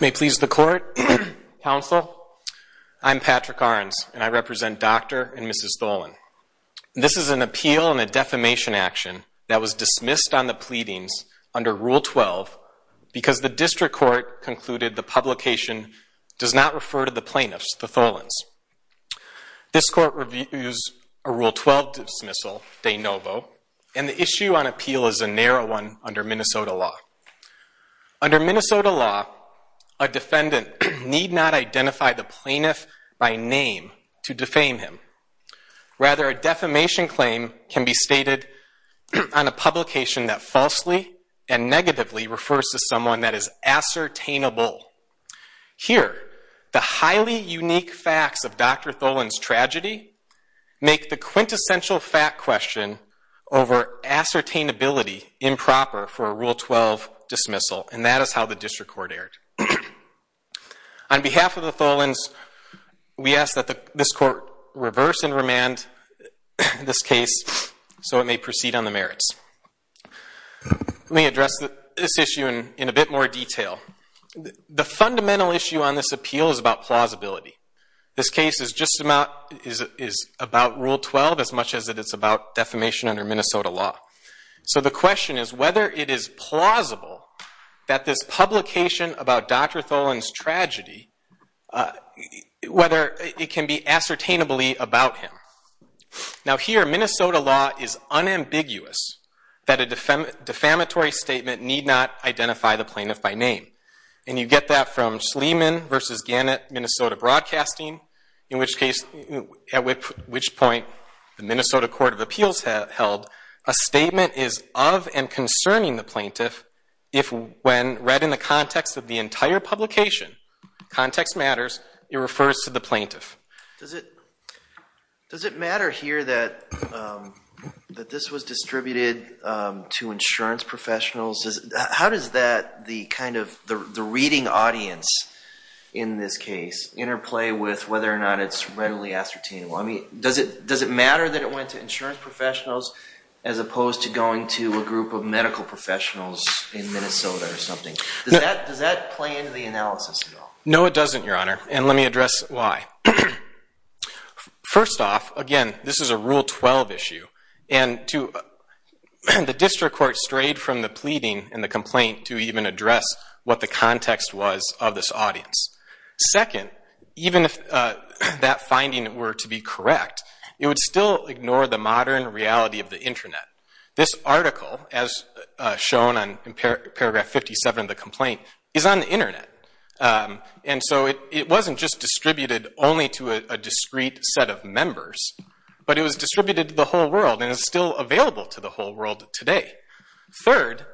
May it please the Court, Counsel, I'm Patrick Ahrens, and I represent Dr. and Mrs. Tholen. This is an appeal and a defamation action that was dismissed on the pleadings under Rule 12 because the District Court concluded the publication does not refer to the plaintiffs, the Tholens. This Court reviews a Rule 12 dismissal, de novo, and the issue on appeal is a narrow one under Minnesota law. Under Minnesota law, a defendant need not identify the plaintiff by name to defame him. Rather, a defamation claim can be stated on a publication that falsely and negatively refers to someone that is ascertainable. Here the highly unique facts of Dr. Tholen's tragedy make the quintessential fact question over ascertainability improper for a Rule 12 dismissal, and that is how the District Court erred. On behalf of the Tholens, we ask that this Court reverse and remand this case so it may proceed on the merits. Let me address this issue in a bit more detail. The fundamental issue on this appeal is about plausibility. This case is just about Rule 12 as much as it is about defamation under Minnesota law. So the question is whether it is plausible that this publication about Dr. Tholen's tragedy, whether it can be ascertainably about him. Now here, Minnesota law is unambiguous that a defamatory statement need not identify the plaintiff by name. You get that from Schlieman v. Gannett, Minnesota Broadcasting, at which point the Minnesota Court of Appeals held a statement is of and concerning the plaintiff if when read in the context of the entire publication, context matters, it refers to the plaintiff. Does it matter here that this was distributed to insurance professionals? How does that, the reading audience in this case, interplay with whether or not it's readily ascertainable? I mean, does it matter that it went to insurance professionals as opposed to going to a group of medical professionals in Minnesota or something? Does that play into the analysis at all? No it doesn't, Your Honor, and let me address why. First off, again, this is a Rule 12 issue. And the district court strayed from the pleading and the complaint to even address what the context was of this audience. Second, even if that finding were to be correct, it would still ignore the modern reality of the internet. This article, as shown in paragraph 57 of the complaint, is on the internet. And so it wasn't just distributed only to a discrete set of members, but it was distributed to the whole world and is still available to the whole world today. Third,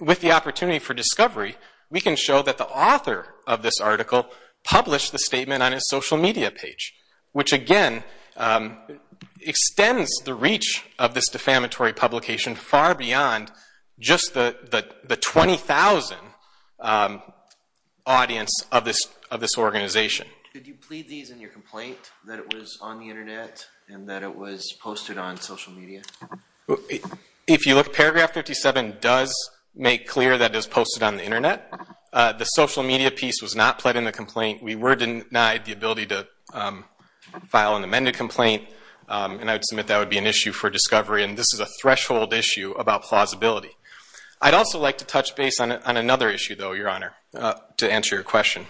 with the opportunity for discovery, we can show that the author of this article published the statement on his social media page, which again, extends the reach of this defamatory publication far beyond just the 20,000 audience of this organization. Could you plead these in your complaint, that it was on the internet and that it was posted on social media? If you look, paragraph 57 does make clear that it was posted on the internet. The social media piece was not pled in the complaint. We were denied the ability to file an amended complaint, and I would submit that would be an issue for discovery, and this is a threshold issue about plausibility. I'd also like to touch base on another issue, though, Your Honor, to answer your question.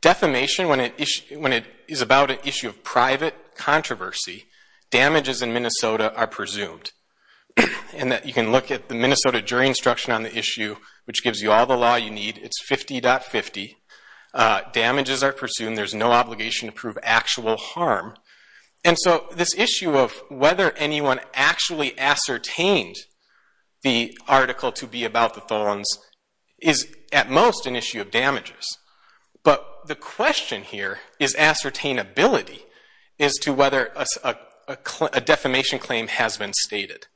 Defamation, when it is about an issue of private controversy, damages in Minnesota are presumed. You can look at the Minnesota jury instruction on the issue, which gives you all the law you need. It's 50.50. Damages are presumed. There's no obligation to prove actual harm. And so this issue of whether anyone actually ascertained the article to be about the Tholins is at most an issue of damages, but the question here is ascertainability as to whether a defamation claim has been stated.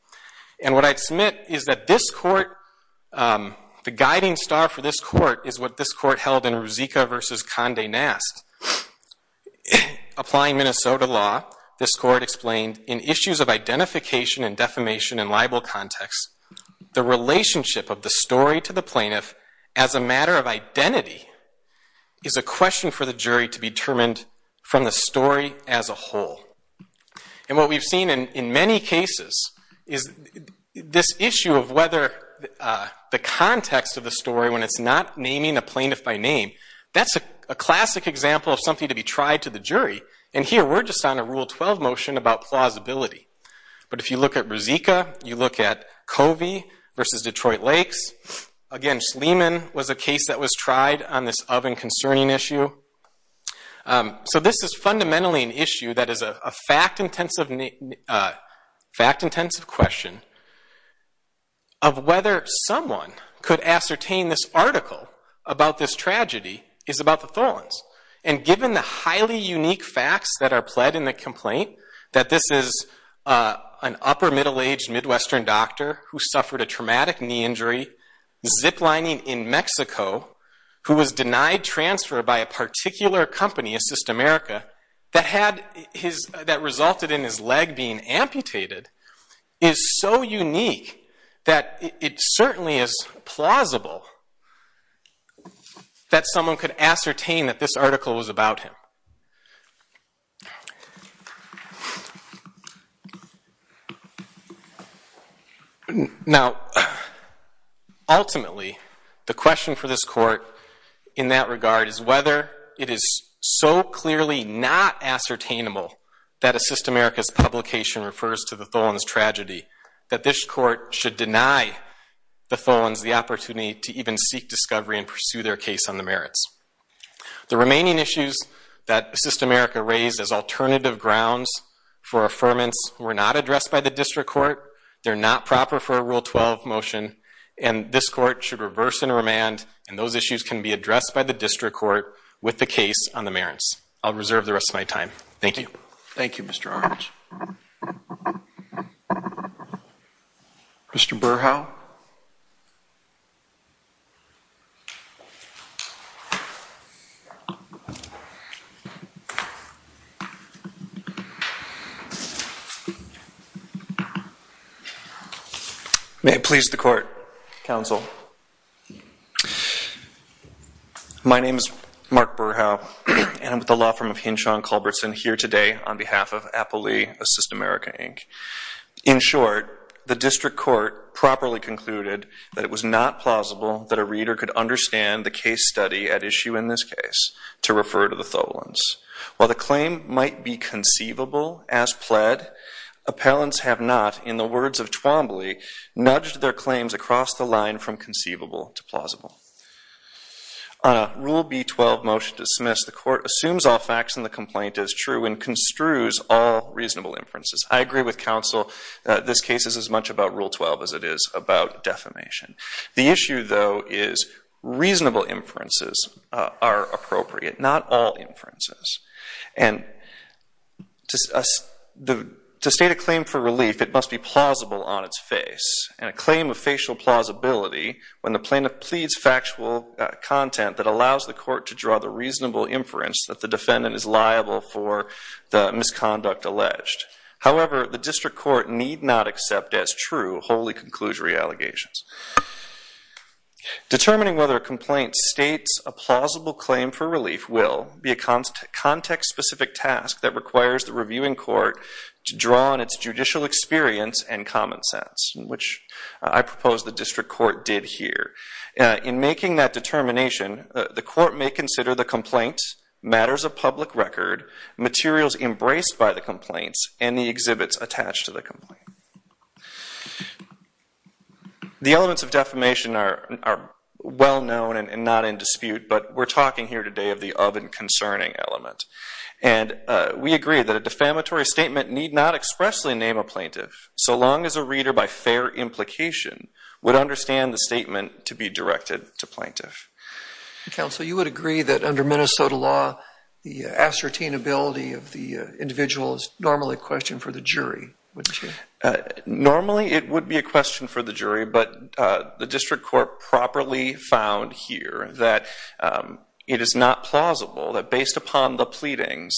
And what I'd submit is that this court, the guiding star for this court is what this court asked. Applying Minnesota law, this court explained, in issues of identification and defamation and libel context, the relationship of the story to the plaintiff as a matter of identity is a question for the jury to be determined from the story as a whole. And what we've seen in many cases is this issue of whether the context of the story, when it's not naming a plaintiff by name, that's a classic example of something to be tried to the jury. And here we're just on a Rule 12 motion about plausibility. But if you look at Brezika, you look at Covey v. Detroit Lakes, again, Schlieman was a case that was tried on this oven concerning issue. So this is fundamentally an issue that is a fact-intensive question of whether someone could ascertain this article about this tragedy is about the Tholins. And given the highly unique facts that are pled in the complaint, that this is an upper middle-aged Midwestern doctor who suffered a traumatic knee injury, ziplining in Mexico, who was denied transfer by a particular company, Assist America, that resulted in his leg being plausible that someone could ascertain that this article was about him. Now ultimately, the question for this court in that regard is whether it is so clearly not ascertainable that Assist America's publication refers to the Tholins tragedy that this court should deny the Tholins the opportunity to even seek discovery and pursue their case on the merits. The remaining issues that Assist America raised as alternative grounds for affirmance were not addressed by the district court. They're not proper for a Rule 12 motion. And this court should reverse and remand, and those issues can be addressed by the district court with the case on the merits. I'll reserve the rest of my time. Thank you. Thank you, Mr. Orange. Mr. Burrhow? May it please the court, counsel. My name is Mark Burrhow, and I'm with the law firm of Hinshaw & Culbertson here today on behalf of Apple Lee, Assist America, Inc. In short, the district court properly concluded that it was not plausible that a reader could understand the case study at issue in this case to refer to the Tholins. While the claim might be conceivable as pled, appellants have not, in the words of Twombly, nudged their claims across the line from conceivable to plausible. On a Rule B-12 motion dismissed, the court assumes all facts in the complaint as true and construes all reasonable inferences. I agree with counsel that this case is as much about Rule 12 as it is about defamation. The issue, though, is reasonable inferences are appropriate, not all inferences. And to state a claim for relief, it must be plausible on its face, and a claim of facial plausibility when the plaintiff pleads factual content that allows the court to draw the misconduct alleged. However, the district court need not accept as true wholly conclusory allegations. Determining whether a complaint states a plausible claim for relief will be a context-specific task that requires the reviewing court to draw on its judicial experience and common sense, which I propose the district court did here. In making that determination, the court may consider the complaint matters of public record, materials embraced by the complaints, and the exhibits attached to the complaint. The elements of defamation are well known and not in dispute, but we're talking here today of the of and concerning element. And we agree that a defamatory statement need not expressly name a plaintiff, so long as a reader by fair implication would understand the statement to be directed to plaintiff. Counsel, you would agree that under Minnesota law, the ascertainability of the individual is normally a question for the jury, wouldn't you? Normally it would be a question for the jury, but the district court properly found here that it is not plausible, that based upon the pleadings,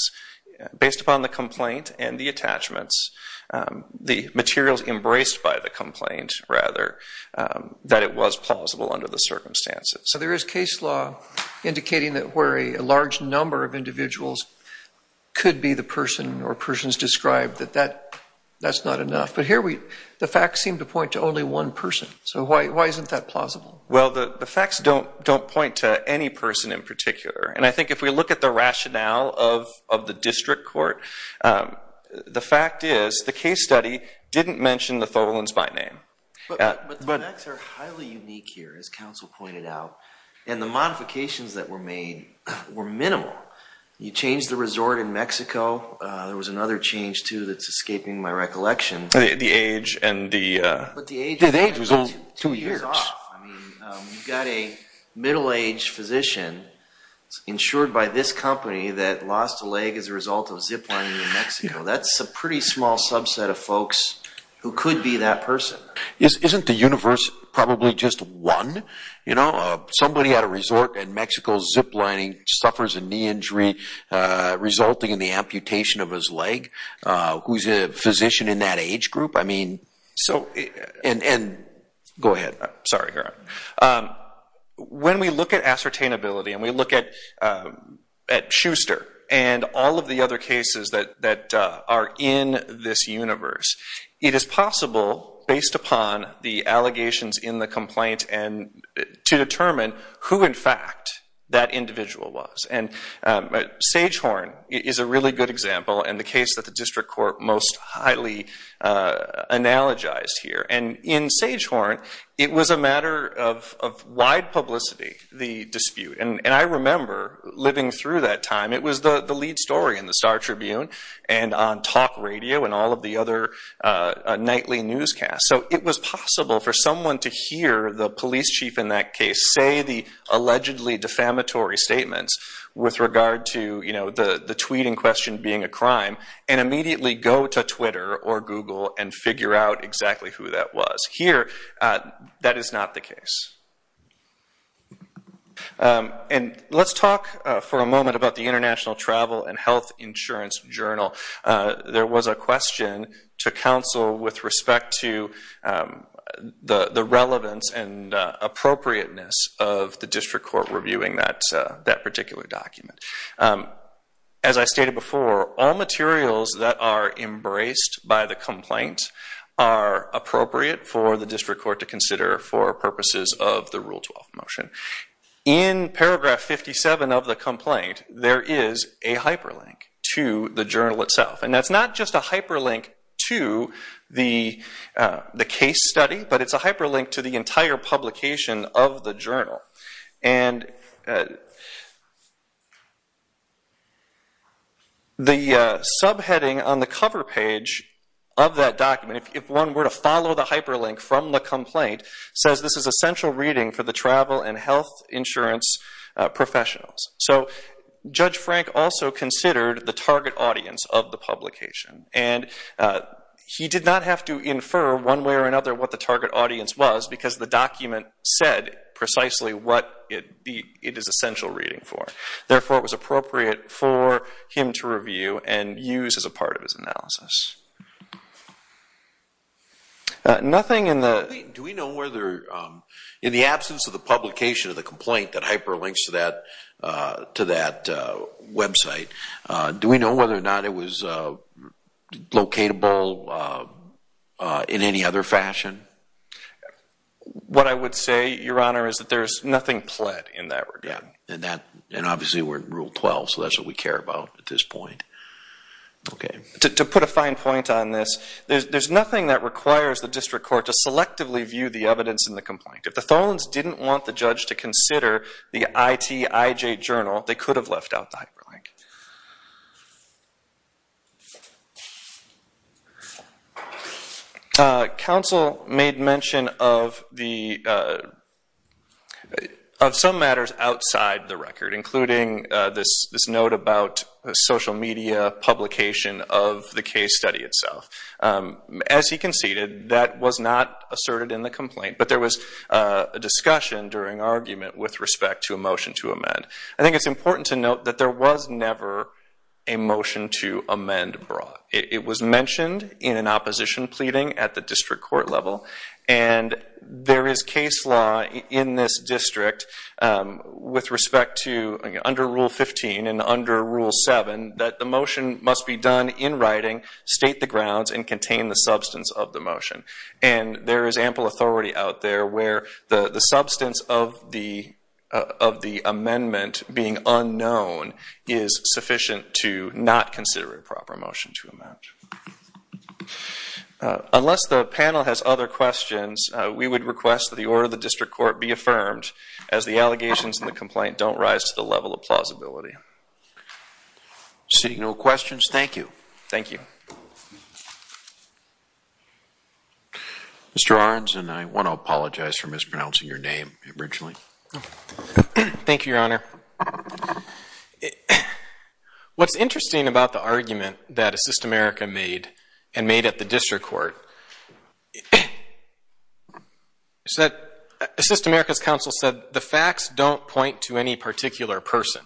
based upon the complaint and the attachments, the materials embraced by the complaint, rather, that it was plausible under the circumstances. So there is case law indicating that where a large number of individuals could be the person or persons described, that that's not enough. But here, the facts seem to point to only one person. So why isn't that plausible? Well, the facts don't point to any person in particular. And I think if we look at the rationale of the district court, the fact is the case study didn't mention the Tholins by name. But the facts are highly unique here, as counsel pointed out, and the modifications that were made were minimal. You changed the resort in Mexico. There was another change, too, that's escaping my recollection. The age and the... But the age was only two years off. I mean, you've got a middle-aged physician insured by this company that lost a leg as a result of ziplining in Mexico. That's a pretty small subset of folks who could be that person. Isn't the universe probably just one? Somebody at a resort in Mexico, ziplining, suffers a knee injury resulting in the amputation of his leg. Who's a physician in that age group? I mean... So... And... Go ahead. Sorry. When we look at ascertainability and we look at Schuster and all of the other cases that are in this universe, it is possible, based upon the allegations in the complaint, to determine who, in fact, that individual was. And Sagehorn is a really good example and the case that the district court most highly analogized here. And in Sagehorn, it was a matter of wide publicity, the dispute. And I remember living through that time. It was the lead story in the Star Tribune and on talk radio and all of the other nightly newscasts. So it was possible for someone to hear the police chief in that case say the allegedly defamatory statements with regard to the tweet in question being a crime and immediately go to Twitter or Google and figure out exactly who that was. Here, that is not the case. And let's talk for a moment about the International Travel and Health Insurance Journal. There was a question to counsel with respect to the relevance and appropriateness of the district court reviewing that particular document. As I stated before, all materials that are embraced by the complaint are appropriate for the district court to consider for purposes of the Rule 12 motion. In paragraph 57 of the complaint, there is a hyperlink to the journal itself. And that's not just a hyperlink to the case study, but it's a hyperlink to the entire publication of the journal. And the subheading on the cover page of that document, if one were to follow the hyperlink from the complaint, says this is essential reading for the travel and health insurance professionals. So Judge Frank also considered the target audience of the publication. And he did not have to infer one way or another what the target audience was because the document said precisely what it is essential reading for. Therefore, it was appropriate for him to review and use as a part of his analysis. Nothing in the... Do we know whether in the absence of the publication of the complaint that hyperlinks to that website, do we know whether or not it was locatable in any other fashion? What I would say, Your Honor, is that there's nothing pled in that regard. And obviously we're in Rule 12, so that's what we care about at this point. To put a fine point on this, there's nothing that requires the district court to selectively view the evidence in the complaint. If the Tholins didn't want the judge to consider the ITIJ journal, they could have left out the hyperlink. Counsel made mention of some matters outside the record, including this note about social media publication of the case study itself. As he conceded, that was not asserted in the complaint. But there was a discussion during argument with respect to a motion to amend. I think it's important to note that there was never a motion to amend brought. It was mentioned in an opposition pleading at the district court level. And there is case law in this district with respect to, under Rule 15 and under Rule 7, that the motion must be done in writing, state the grounds, and contain the substance of the motion. And there is ample authority out there where the substance of the amendment being unknown is sufficient to not consider a proper motion to amend. Unless the panel has other questions, we would request that the order of the district court be affirmed, as the allegations in the complaint don't rise to the level of plausibility. Seeing no questions, thank you. Thank you. Mr. Aronson, I want to apologize for mispronouncing your name originally. Thank you, Your Honor. What's interesting about the argument that Assist America made and made at the district court is that Assist America's counsel said, the facts don't point to any particular person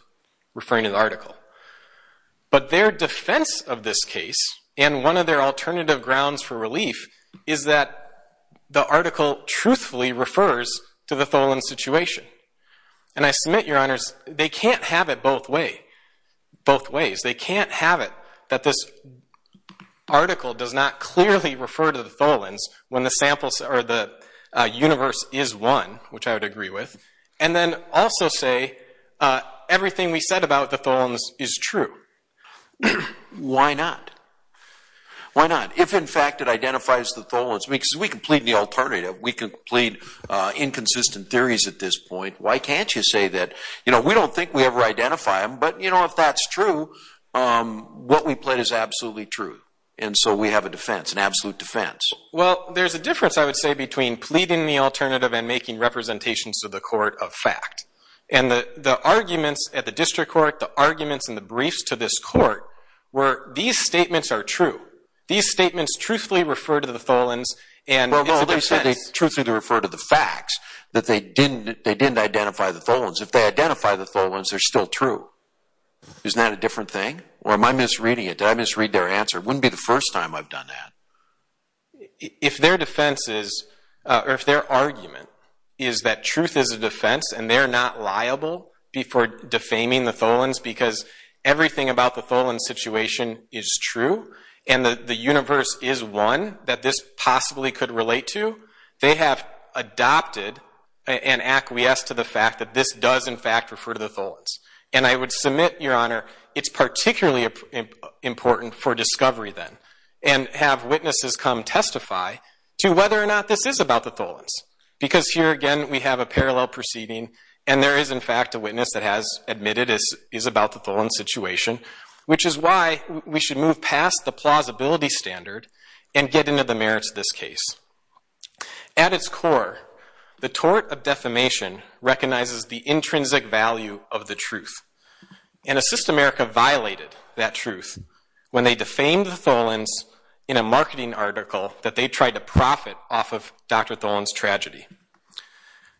referring to the article. But their defense of this case, and one of their alternative grounds for relief, is that the article truthfully refers to the Tholins situation. And I submit, Your Honors, they can't have it both ways. They can't have it that this article does not clearly refer to the Tholins when the samples or the universe is one, which I would agree with, and then also say everything we say is true. Why not? Why not? If, in fact, it identifies the Tholins, because we can plead the alternative. We can plead inconsistent theories at this point. Why can't you say that we don't think we ever identify them, but if that's true, what we plead is absolutely true. And so we have a defense, an absolute defense. Well, there's a difference, I would say, between pleading the alternative and making representations to the court of fact. And the arguments at the district court, the arguments in the briefs to this court, were these statements are true. These statements truthfully refer to the Tholins, and it's a defense. Well, they said they truthfully refer to the facts, that they didn't identify the Tholins. If they identify the Tholins, they're still true. Isn't that a different thing? Or am I misreading it? Did I misread their answer? It wouldn't be the first time I've done that. If their defense is, or if their argument is that truth is a defense and they're not liable before defaming the Tholins because everything about the Tholins situation is true, and the universe is one that this possibly could relate to, they have adopted an acquiesce to the fact that this does, in fact, refer to the Tholins. And I would submit, Your Honor, it's particularly important for discovery then. And have witnesses come testify to whether or not this is about the Tholins. Because here, again, we have a parallel proceeding, and there is, in fact, a witness that has admitted it is about the Tholins situation, which is why we should move past the plausibility standard and get into the merits of this case. At its core, the tort of defamation recognizes the intrinsic value of the truth. And Assist America violated that truth when they defamed the Tholins in a marketing article that they tried to profit off of Dr. Tholins' tragedy.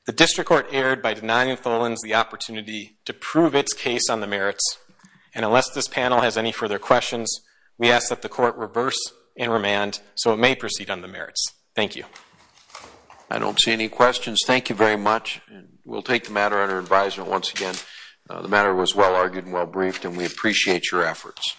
The district court erred by denying the Tholins the opportunity to prove its case on the merits. And unless this panel has any further questions, we ask that the court reverse and remand so it may proceed on the merits. Thank you. I don't see any questions. Thank you very much. We'll take the matter under advisement once again. The matter was well argued and well briefed, and we appreciate your efforts.